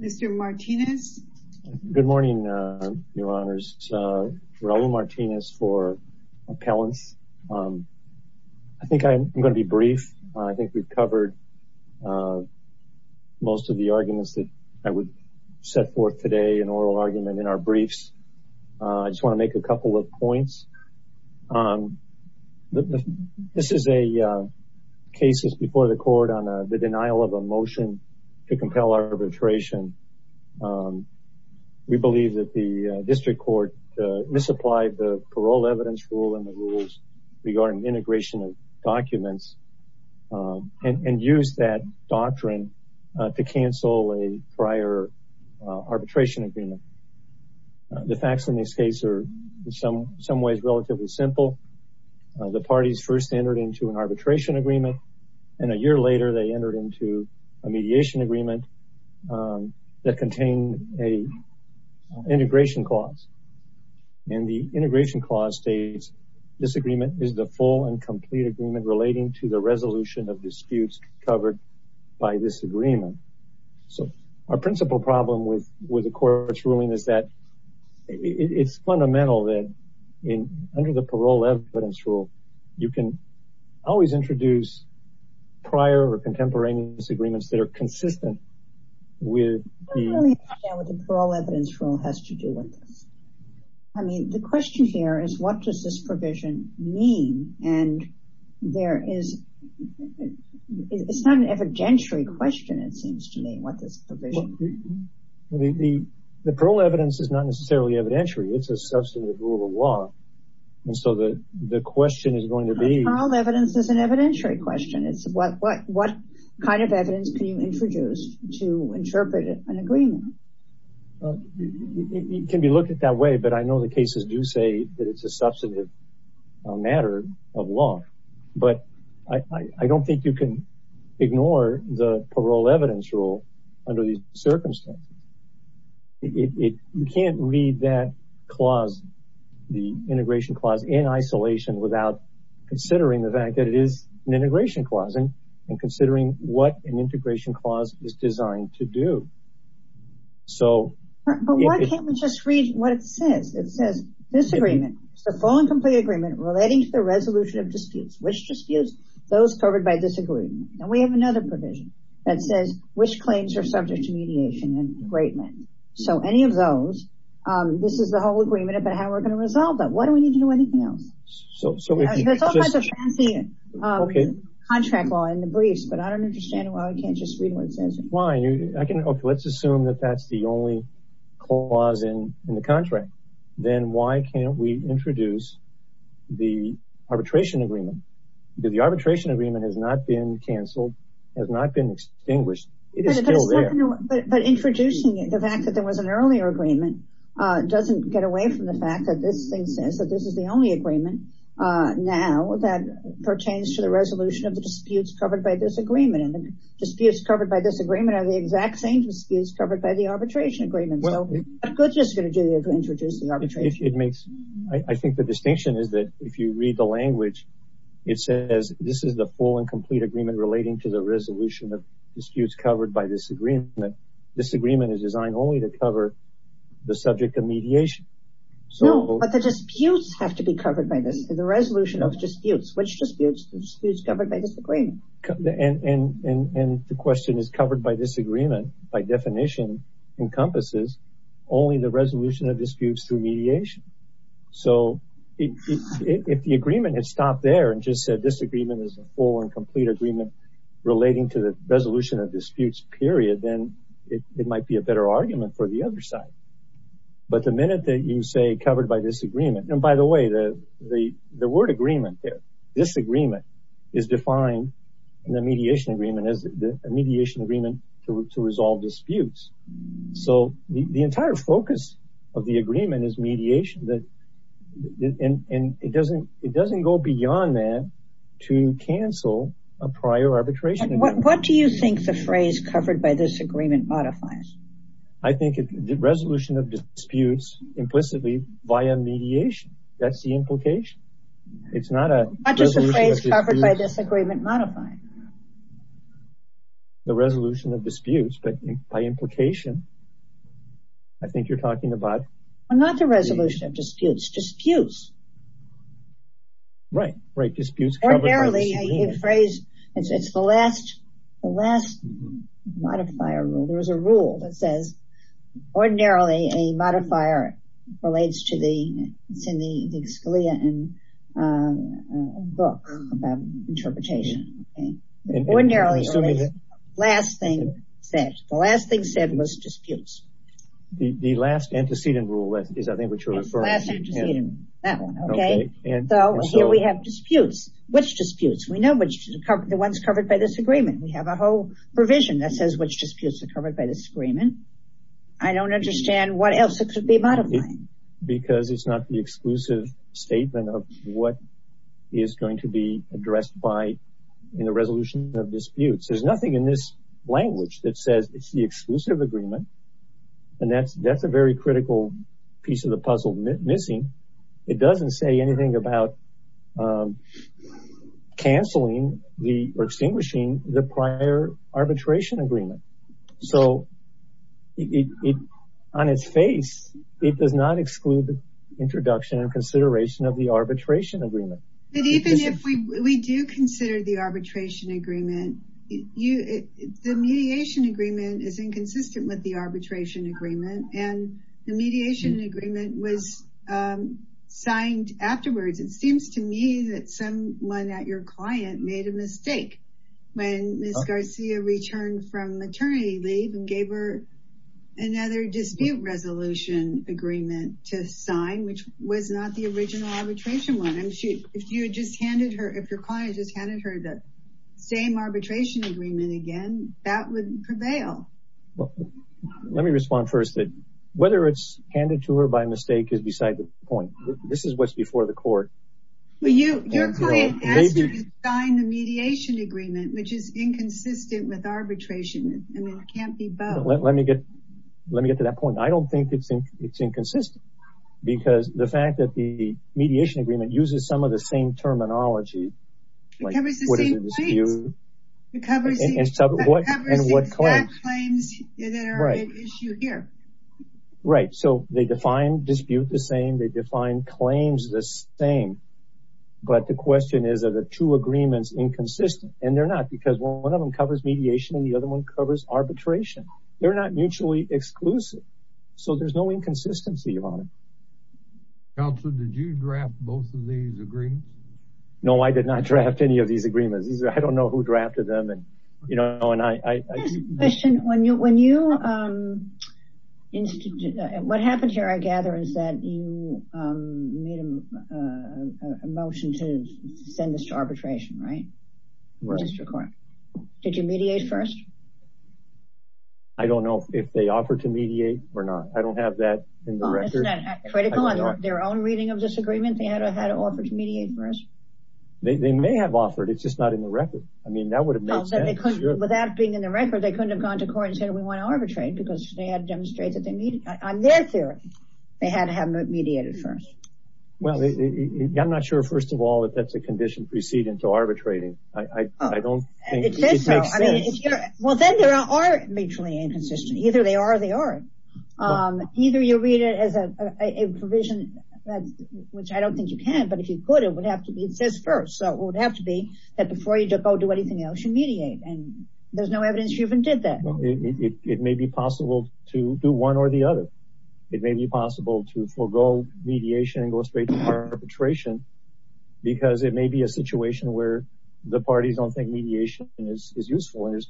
Mr. Martinez. Good morning, Your Honors. Raul Martinez for Appellants. I think I'm going to be brief. I think we've covered most of the arguments that I would set forth today, an oral argument in our briefs. I just want to make a couple of points. This is a case that's before the court on the denial of a motion to compel arbitration. We believe that the district court misapplied the parole evidence rule and the rules regarding integration of documents and used that doctrine to cancel a prior arbitration agreement. The facts in this case are in some ways relatively simple. The parties first entered into an arbitration agreement, and a year later they entered into a mediation agreement that contained an integration clause. The integration clause states this agreement is the full and complete agreement relating to the resolution of disputes covered by this agreement. Our principal problem with the court's ruling is that it's fundamental that under the parole evidence rule, you can always introduce prior or contemporaneous agreements that are consistent with the parole evidence rule. The question here is, what does this provision mean? It's not an evidentiary question, it seems to me. The parole evidence is not necessarily evidentiary. It's a substantive rule of law. Parole evidence is an evidentiary question. What kind of evidence can you introduce to interpret an agreement? It can be looked at that way, but I know the cases do say that it's a substantive matter of law. I don't think you can clause the integration clause in isolation without considering the fact that it is an integration clause and considering what an integration clause is designed to do. But why can't we just read what it says? It says this agreement is the full and complete agreement relating to the resolution of disputes, which disputes those covered by this agreement. We have another provision that says which claims are subject to mediation and agreement. Any of those, this is the whole agreement about how we're going to resolve that. Why do we need to do anything else? There's all kinds of fancy contract law in the briefs, but I don't understand why we can't just read what it says. Let's assume that that's the only clause in the contract. Then why can't we introduce the arbitration agreement? The arbitration agreement has not been canceled, has not been extinguished. It is still there. But introducing it, the fact that there was an earlier agreement doesn't get away from the fact that this thing says that this is the only agreement now that pertains to the resolution of the disputes covered by this agreement. The disputes covered by this agreement are the exact same disputes covered by the arbitration agreement. What good is it going to do to introduce the arbitration agreement? I think the distinction is that if you read the language, it says this is the full and complete agreement relating to the resolution of disputes covered by this agreement. This agreement is designed only to cover the subject of mediation. But the disputes have to be covered by this, the resolution of disputes. Which disputes? The disputes covered by this agreement. And the question is covered by this agreement, by definition, encompasses only the resolution of disputes through mediation. So if the agreement had stopped there and just said this agreement is a full and complete agreement relating to the resolution of disputes period, then it might be a better argument for the other side. But the minute that you say covered by this agreement, and by the way, the word agreement there, this agreement is defined in the mediation agreement as a mediation agreement to resolve disputes. So the entire focus of the agreement is mediation. And it doesn't go beyond that to cancel a prior arbitration agreement. What do you think the phrase covered by this agreement modifies? I think it's the resolution of disputes implicitly via mediation. That's the implication. It's not a... Not just a phrase covered by this agreement modifying. The resolution of disputes, but by implication, I think you're talking about... Not the resolution of disputes, disputes. Right, disputes covered by this agreement. Ordinarily, a phrase, it's the last modifier rule. There's a rule that says ordinarily a modifier relates to the, it's in the Scalia book about interpretation. Ordinarily, the last thing said was disputes. The last antecedent is I think what you're referring to. The last antecedent, that one, okay. So here we have disputes. Which disputes? We know the ones covered by this agreement. We have a whole provision that says which disputes are covered by this agreement. I don't understand what else it could be modifying. Because it's not the exclusive statement of what is going to be addressed by in the resolution of disputes. There's nothing in this language that says it's the exclusive agreement. And that's a very critical piece of the puzzle missing. It doesn't say anything about cancelling or extinguishing the prior arbitration agreement. So on its face, it does not exclude the introduction and consideration of the arbitration agreement. But even if we do consider the arbitration agreement, you, the mediation agreement is inconsistent with the arbitration agreement. And the mediation agreement was signed afterwards. It seems to me that someone at your client made a mistake when Ms. Garcia returned from maternity leave and gave her another dispute resolution agreement to sign, which was not the original arbitration one. If you had just handed her, if your client just handed her the same arbitration agreement again, that would prevail. Let me respond first. Whether it's handed to her by mistake is beside the point. This is what's before the court. Your client asked her to sign the mediation agreement, which is inconsistent with arbitration. It can't be both. Let me get to that point. I don't think it's inconsistent. Because the fact that the mediation agreement uses some of the same terminology covers the same claims. It covers the exact claims that are at issue here. Right. So they define dispute the same. They define claims the same. But the question is, are the two agreements inconsistent? And they're not because one of them covers mediation and the other one covers arbitration. They're not mutually exclusive. So there's no inconsistency on it. Counselor, did you draft both of these agreements? No, I did not draft any of these agreements. I don't know who drafted them. And, you know, and I question when you when you what happened here, I gather, is that you made a motion to send this to arbitration, right? Did you mediate first? I don't know if they offered to mediate or not. I don't have that critical on their own reading of this agreement. They had to have offered to mediate first. They may have offered. It's just not in the record. I mean, that would have made sense. Without being in the record, they couldn't have gone to court and said, we want to arbitrate because they had demonstrated that they need their theory. They had to have mediated first. Well, I'm not sure, first of all, that that's a condition preceding to arbitrating. I don't think it makes sense. Well, then there are mutually inconsistent. Either they are, they are. Either you read it as a provision, which I don't think you can, but if you could, it would have to be, it says first. So it would have to be that before you go do anything else, you mediate. And there's no evidence you even did that. It may be possible to do one or the other. It may be possible to forego mediation and go straight to arbitration because it may be a situation where the parties don't think mediation is useful. And there's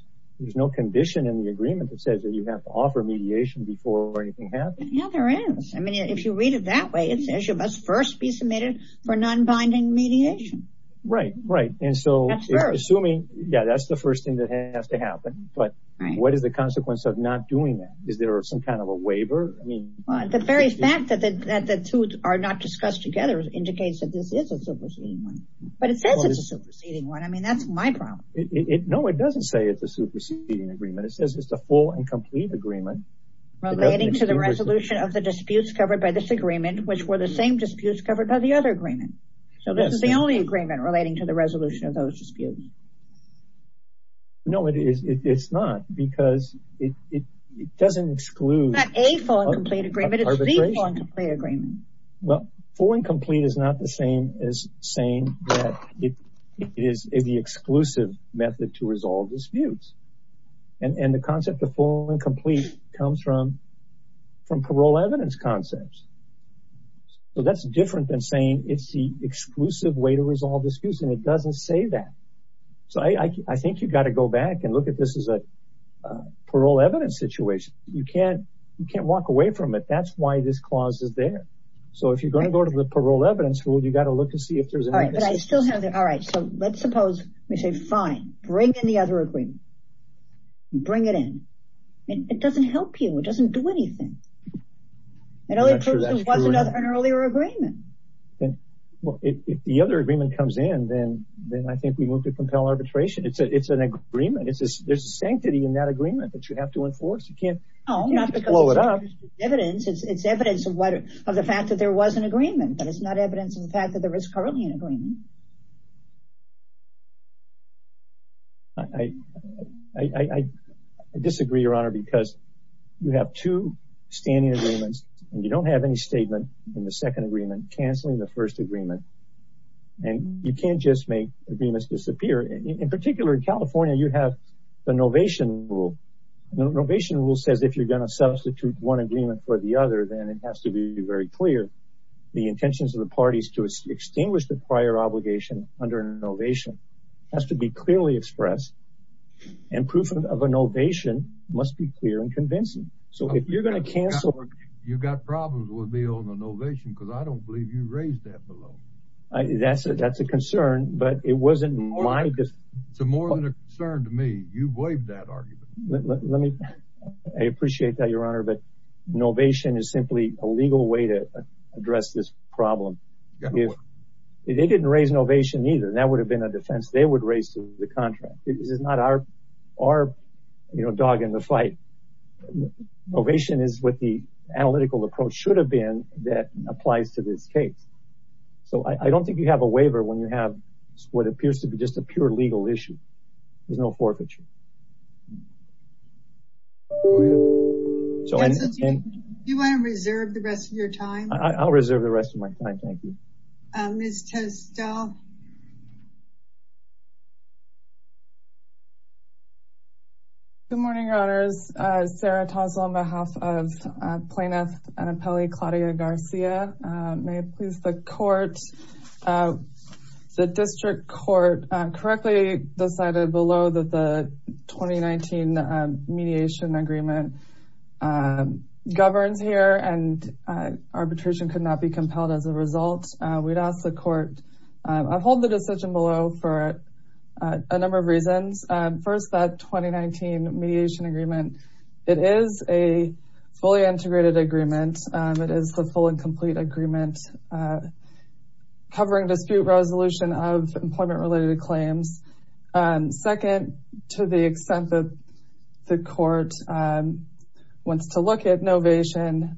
no condition in the agreement that says that you have to offer mediation before anything happens. Yeah, there is. I mean, if you read it that way, it says you must first be submitted for non-binding mediation. Right, right. And so assuming, yeah, that's the first thing that has to happen. But what is the consequence of not doing that? Is there some kind of a waiver? I mean, the very fact that the two are not discussed together indicates that this is a superseding one. But it says it's a superseding one. I mean, that's my problem. No, it doesn't say it's a superseding agreement. It says it's a full and complete agreement. Relating to the resolution of the disputes covered by this agreement, which were the same disputes covered by the other agreement. So this is the only agreement relating to the resolution of those disputes. No, it's not because it doesn't exclude... It's not a full and complete agreement. It's the full and complete agreement. Well, full and complete is not the same as saying that it is the exclusive method to from parole evidence concepts. So that's different than saying it's the exclusive way to resolve disputes. And it doesn't say that. So I think you've got to go back and look at this as a parole evidence situation. You can't walk away from it. That's why this clause is there. So if you're going to go to the parole evidence rule, you've got to look to see if there's... All right. But I still have the... All right. So let's suppose we say, fine, bring in the other agreement. Bring it in. It doesn't help you. It doesn't do anything. It only proves there was an earlier agreement. Well, if the other agreement comes in, then I think we move to compel arbitration. It's an agreement. There's a sanctity in that agreement that you have to enforce. You can't... No, not because it's evidence. It's evidence of the fact that there was an agreement, but it's not evidence of the fact that there is currently an agreement. I disagree, Your Honor, because you have two standing agreements and you don't have any statement in the second agreement canceling the first agreement. And you can't just make agreements disappear. In particular, in California, you have the novation rule. The novation rule says if you're going to substitute one agreement for the other, then it has to be very clear. The intentions of the parties to extinguish the prior obligation under a novation has to be clearly expressed and proof of a novation must be clear and convincing. So if you're going to cancel... You've got problems with me on the novation because I don't believe you raised that below. That's a concern, but it wasn't my... It's more than a concern to me. You've waived that argument. I appreciate that, Your Honor, but novation is simply a legal way to address this problem. If they didn't raise novation either, that would have been a defense they would raise to the contract. This is not our dog in the fight. Novation is what the analytical approach should have been that applies to this case. So I don't think you have a waiver when you have what appears to be just a pure legal issue. There's no forfeiture. Do you want to reserve the rest of your time? I'll reserve the rest of my time. Thank you. Good morning, Your Honors. Sarah Toslow on behalf of Plaintiff Annapelle Claudia Garcia. May it please the court. The district court correctly decided below that the 2019 mediation agreement governs here and arbitration could not be compelled as a result. We'd ask the court... I hold the decision below for a number of reasons. First, that 2019 mediation agreement, it is a fully integrated agreement. It is the full and complete agreement covering dispute resolution of employment-related claims. And second, to the extent that the court wants to look at novation,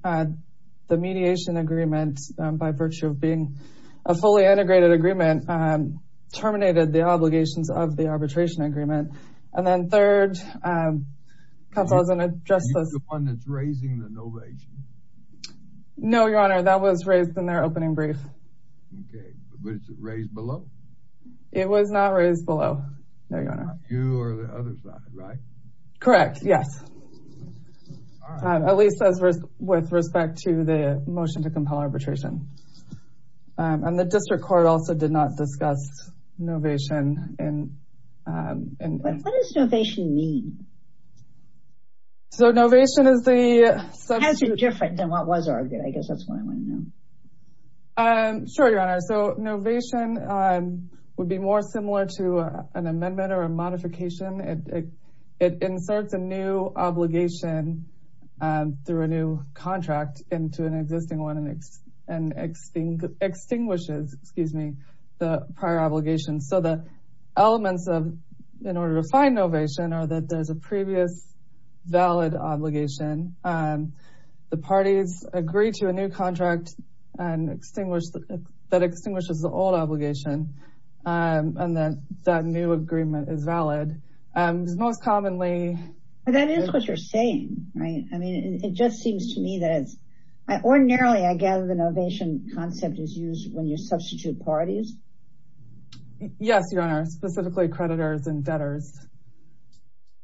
the mediation agreement, by virtue of being a fully integrated agreement, terminated the obligations of the arbitration agreement. And then third, counsel, I was going to address this... The one that's raising the novation? No, Your Honor, that was raised in the motion to compel arbitration. And the district court also did not discuss novation. What does novation mean? So, novation is the substitute... How is it different than what was argued? I guess that's what I want to know. I'm sure, Your Honor. So, novation would be more similar to an amendment or a modification. It inserts a new obligation through a new contract into an existing one and extinguishes the prior obligation. So, the elements in order to find novation are that there's a previous valid obligation, the parties agree to a new contract that extinguishes the old obligation, and then that new agreement is valid. Because most commonly... That is what you're saying, right? I mean, it just seems to me that it's... Ordinarily, I gather the novation concept is used when you substitute parties. Yes, Your Honor, specifically creditors and debtors.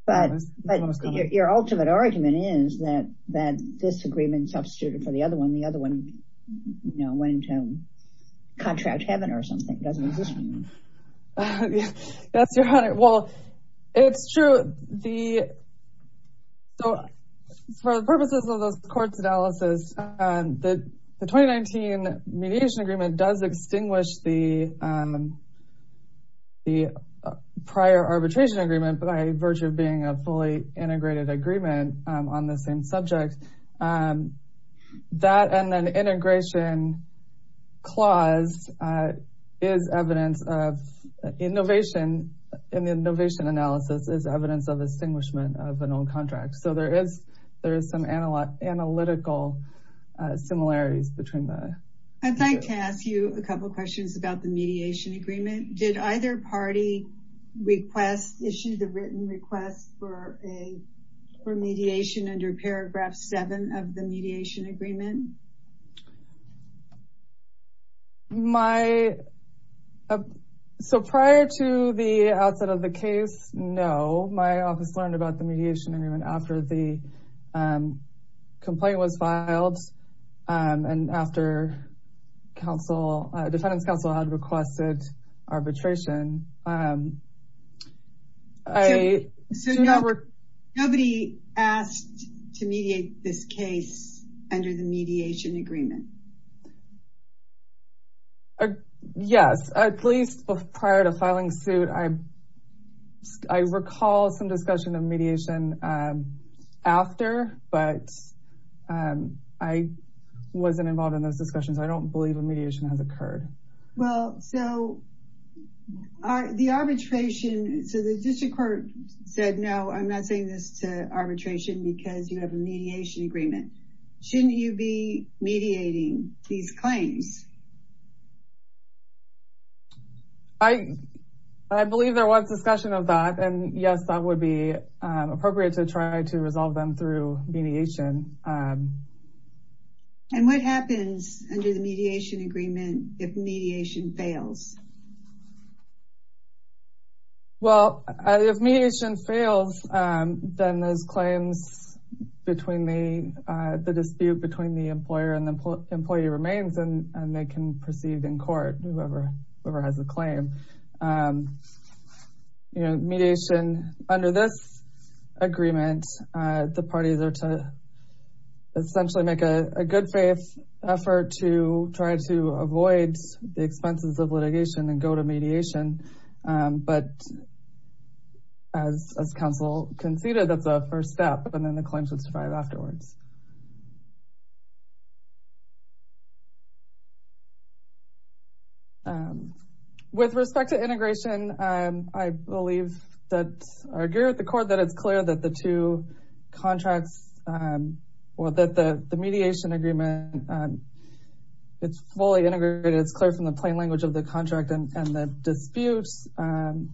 But your ultimate argument is that this agreement substituted for the other one, the other one went into contract heaven or something. It doesn't exist anymore. Yes, Your Honor. Well, it's true. So, for the purposes of this court's analysis, the 2019 mediation agreement does extinguish the prior arbitration agreement by virtue of being a fully integrated agreement on the same subject. That and then integration clause is evidence of... In the novation analysis is evidence of extinguishment of an old contract. So, there is some analytical similarities between the... I'd like to ask you a couple of questions about the mediation agreement. Did either party issue the written request for mediation under paragraph seven of the mediation agreement? So, prior to the outset of the case, no. My office learned about the mediation agreement after the complaint was filed and after the defendant's counsel had requested arbitration. Nobody asked to mediate this case under the mediation agreement? Yes, at least prior to filing suit, I recall some discussion of mediation after, but I wasn't involved in those discussions. I don't believe a mediation has occurred. Well, so the arbitration... So, the district court said, no, I'm not saying this to arbitration because you have a mediation agreement. Shouldn't you be mediating these claims? I believe there was discussion of that. And yes, that would be appropriate to try to resolve them through mediation. And what happens under the mediation agreement if mediation fails? Well, if mediation fails, then those claims between the dispute between the employer and they can proceed in court, whoever has a claim. Mediation under this agreement, the parties are to essentially make a good faith effort to try to avoid the expenses of litigation and go to mediation. But as counsel conceded, that's a first step and then the claims would survive afterwards. With respect to integration, I believe that our gear at the court, that it's clear that the two contracts or that the mediation agreement, it's fully integrated. It's clear from the plain language of the contract and the disputes. The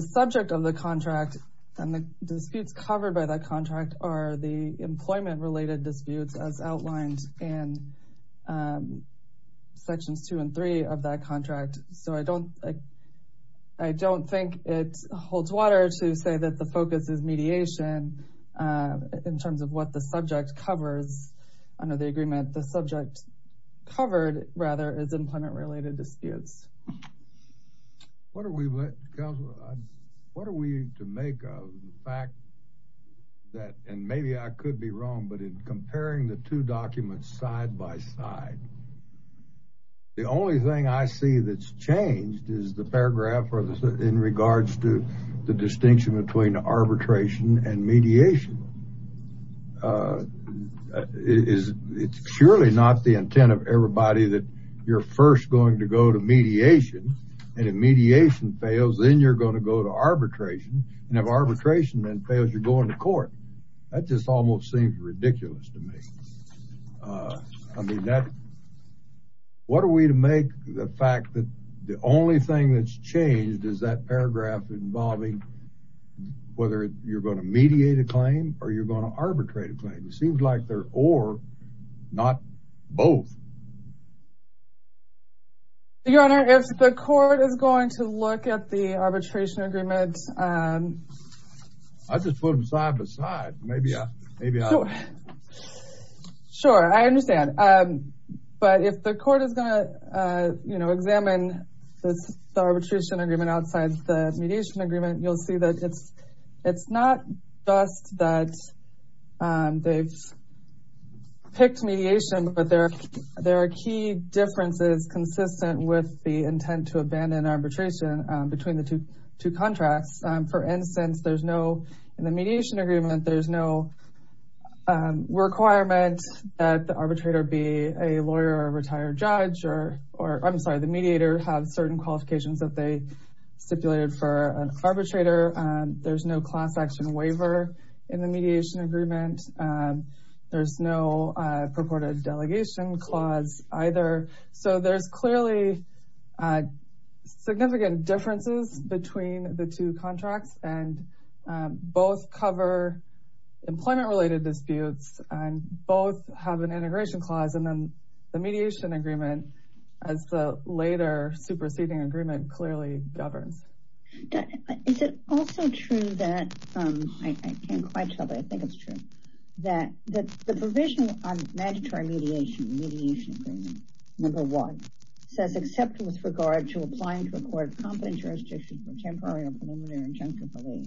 subject of the contract and the disputes covered by that contract are the employment-related disputes as outlined in the mediation agreement. Sections two and three of that contract. So I don't think it holds water to say that the focus is mediation in terms of what the subject covers under the agreement. The subject covered rather is employment-related disputes. What are we to make of the fact that, and maybe I could be wrong, but in comparing the two documents side by side, the only thing I see that's changed is the paragraph in regards to the distinction between arbitration and mediation. It's surely not the intent of everybody that you're first going to go to mediation and if mediation fails, then you're going to go to court. That just almost seems ridiculous to me. I mean, what are we to make the fact that the only thing that's changed is that paragraph involving whether you're going to mediate a claim or you're going to arbitrate a claim. It seems like they're or, not both. Your Honor, if the court is going to look at the arbitration agreement. I just put them side by side. Sure, I understand. But if the court is going to examine the arbitration agreement outside the mediation agreement, you'll see that it's not just that they've picked mediation, but there are key differences consistent with the intent to abandon arbitration between the two contracts. For instance, in the mediation agreement, there's no requirement that the mediator have certain qualifications that they stipulated for an arbitrator. There's no class action waiver in the mediation agreement. There's no purported significant differences between the two contracts and both cover employment related disputes and both have an integration clause and then the mediation agreement as the later superseding agreement clearly governs. Is it also true that, I can't quite tell, but I think it's true, that the provision on mandatory mediation, mediation agreement, number one, says except with regard to applying to a court of competent jurisdiction for temporary or preliminary injunctive relief,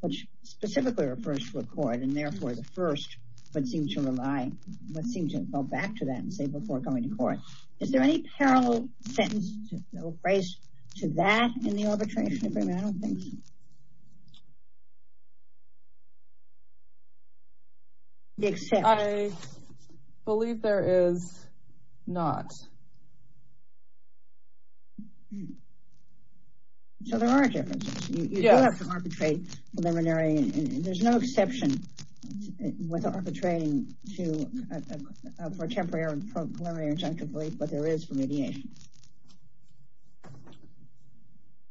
which specifically refers to a court and therefore the first would seem to rely, would seem to fall back to that and say before going to court. Is there any parallel sentence or phrase to that in the arbitration agreement? I don't think so. Except. I believe there is not. So there are differences. You do have to arbitrate preliminary. There's no exception with arbitrating for temporary or preliminary injunctive relief, but there is for mediation.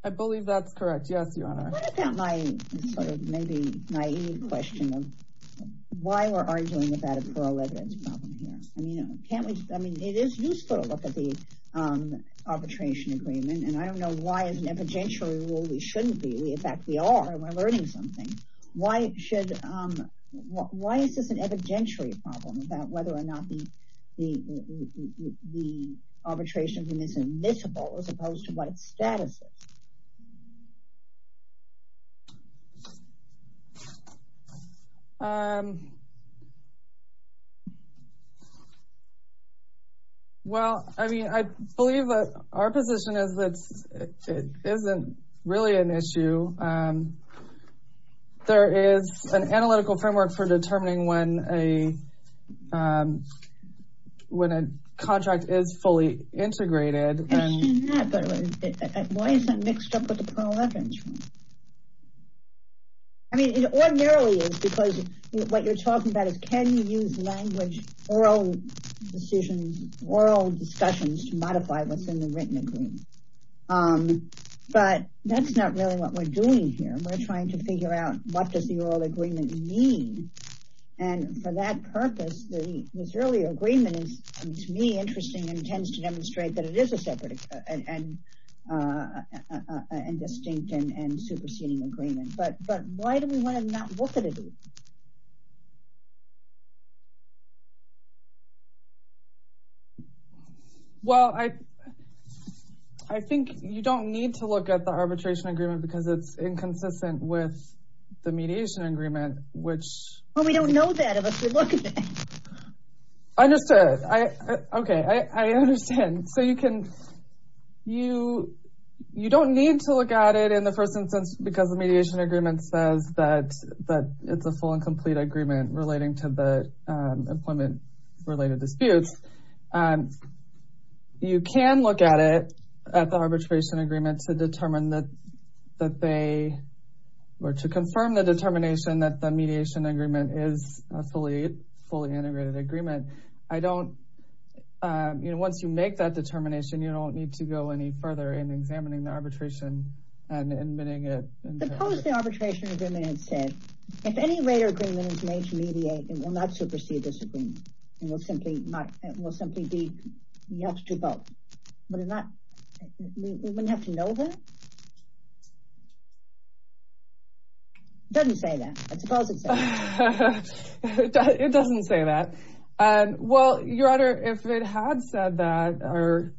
I believe that's correct. Yes, Your Honor. What about my sort of maybe naive question of why we're arguing about a plural evidence problem here? I mean, can't we? I mean, it is useful to look at the arbitration agreement and I don't know why as an evidentiary rule we shouldn't be. In fact, we are. We're learning something. Why should, why is this an evidentiary problem about whether or not the arbitration agreement is admissible as opposed to what its status is? Well, I mean, I believe that our position is that it isn't really an issue. There is an analytical framework for determining when a contract is fully integrated. Why is that mixed up with the plural evidence one? I mean, it ordinarily is because what you're talking about is can you use language, oral decisions, oral discussions to modify what's in the written agreement. But that's not really what we're doing here. We're trying to figure out what does the oral agreement mean? And for that purpose, the Missouri agreement is to me interesting and tends to demonstrate that it is a separate and distinct and superseding agreement. But why do we want to not look at it? Well, I think you don't need to look at the arbitration agreement because it's a full and complete agreement relating to the employment related disputes. You can look at it at the arbitration agreement to determine that they, or to confirm the determination that the mediation agreement is a fully integrated agreement. I don't, you know, once you make that determination, you don't need to go any further in examining the arbitration and admitting it. Suppose the arbitration agreement had said, if any greater agreement is made to mediate, it will not supersede this agreement. It will simply be, you have to vote. We wouldn't have to know that? It doesn't say that. I suppose it says that. It doesn't say that. Well, Your Honor, if it had said that, or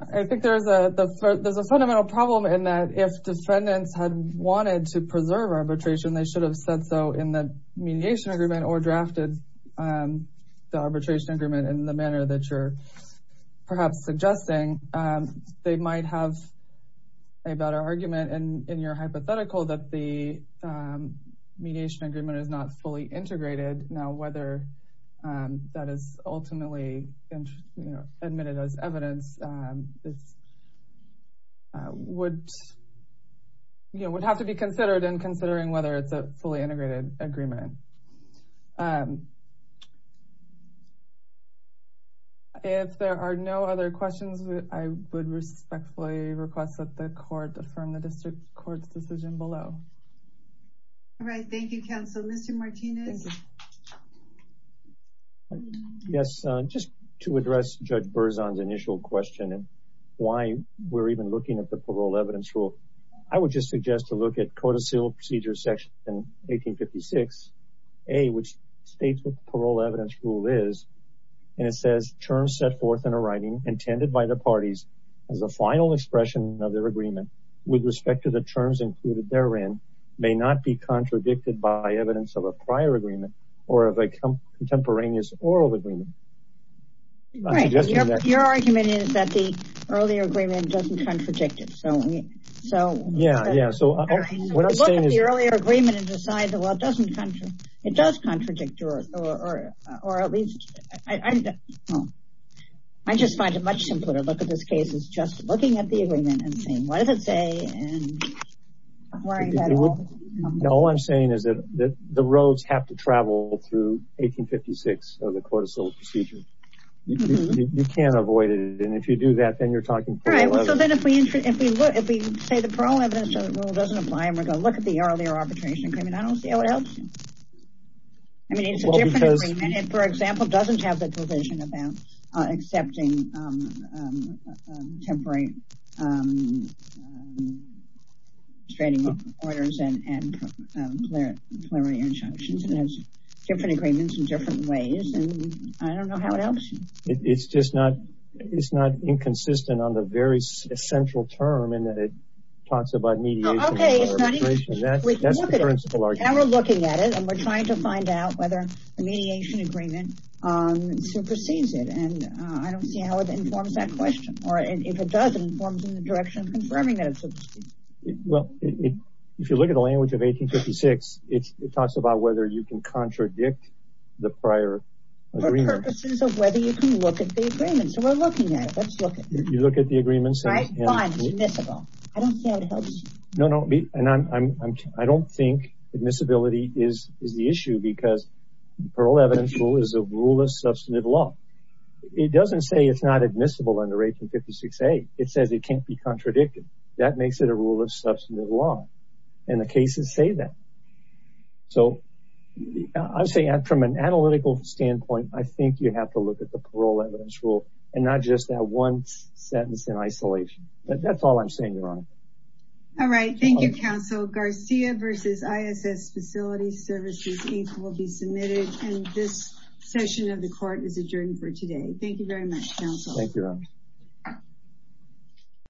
I think there's a fundamental problem in that if defendants had wanted to preserve arbitration, they should have said so in the mediation agreement or drafted the arbitration agreement in the manner that you're perhaps suggesting. They might have a better argument in your hypothetical that the mediation agreement is not fully integrated. Now, whether that is ultimately admitted as evidence, it would have to be considered in considering whether it's a fully integrated agreement. If there are no other questions, I would respectfully request that the court affirm the district court's decision below. All right. Thank you, counsel. Mr. Martinez. Yes. Just to address Judge Berzon's initial question and why we're even looking at the parole evidence rule, I would just suggest to look at code of seal procedure section in 1856 A, which states what the parole evidence rule is. And it says, terms set forth in a writing intended by the parties as a final expression of their agreement with respect to the terms included therein may not be contradicted by evidence of a prior agreement or of a contemporaneous oral agreement. Your argument is that the earlier agreement doesn't contradict it. Yeah. Yeah. So what I'm saying is the earlier agreement and decide that, well, it doesn't look at this case. It's just looking at the agreement and saying, what does it say? No, I'm saying is that the roads have to travel through 1856 of the code of seal procedure. You can't avoid it. And if you do that, then you're talking. All right. So then if we look, if we say the parole evidence rule doesn't apply and we're going to look at the earlier arbitration agreement, I don't see how it helps. I mean, it's a different agreement, for example, doesn't have the provision about accepting temporary straining orders and plenary injunctions. It has different agreements in different ways. And I don't know how it helps. It's just not, it's not inconsistent on the very central term in that it talks about mediation. Okay. Now we're looking at it and we're trying to find out whether a mediation agreement supersedes it. And I don't see how it informs that question or if it doesn't form in the direction of confirming that. Well, if you look at the language of 1856, it talks about whether you can contradict the prior purposes of whether you can look at the agreement. So we're looking at it. Let's look at it. You look at the agreements. I don't see how it helps. No, no. And I'm, I don't think admissibility is, is the issue because parole evidence rule is a rule of substantive law. It doesn't say it's not admissible under 1856A. It says it can't be contradicted. That makes it a rule of substantive law and the cases say that. So I would say from an analytical standpoint, I think you have to look at the parole evidence rule and not just that one sentence in isolation, but that's all I'm saying, Your Honor. All right. Thank you, counsel. Garcia versus Facilities Services, Inc. will be submitted. And this session of the court is adjourned for today. Thank you very much, counsel. Thank you, Your Honor.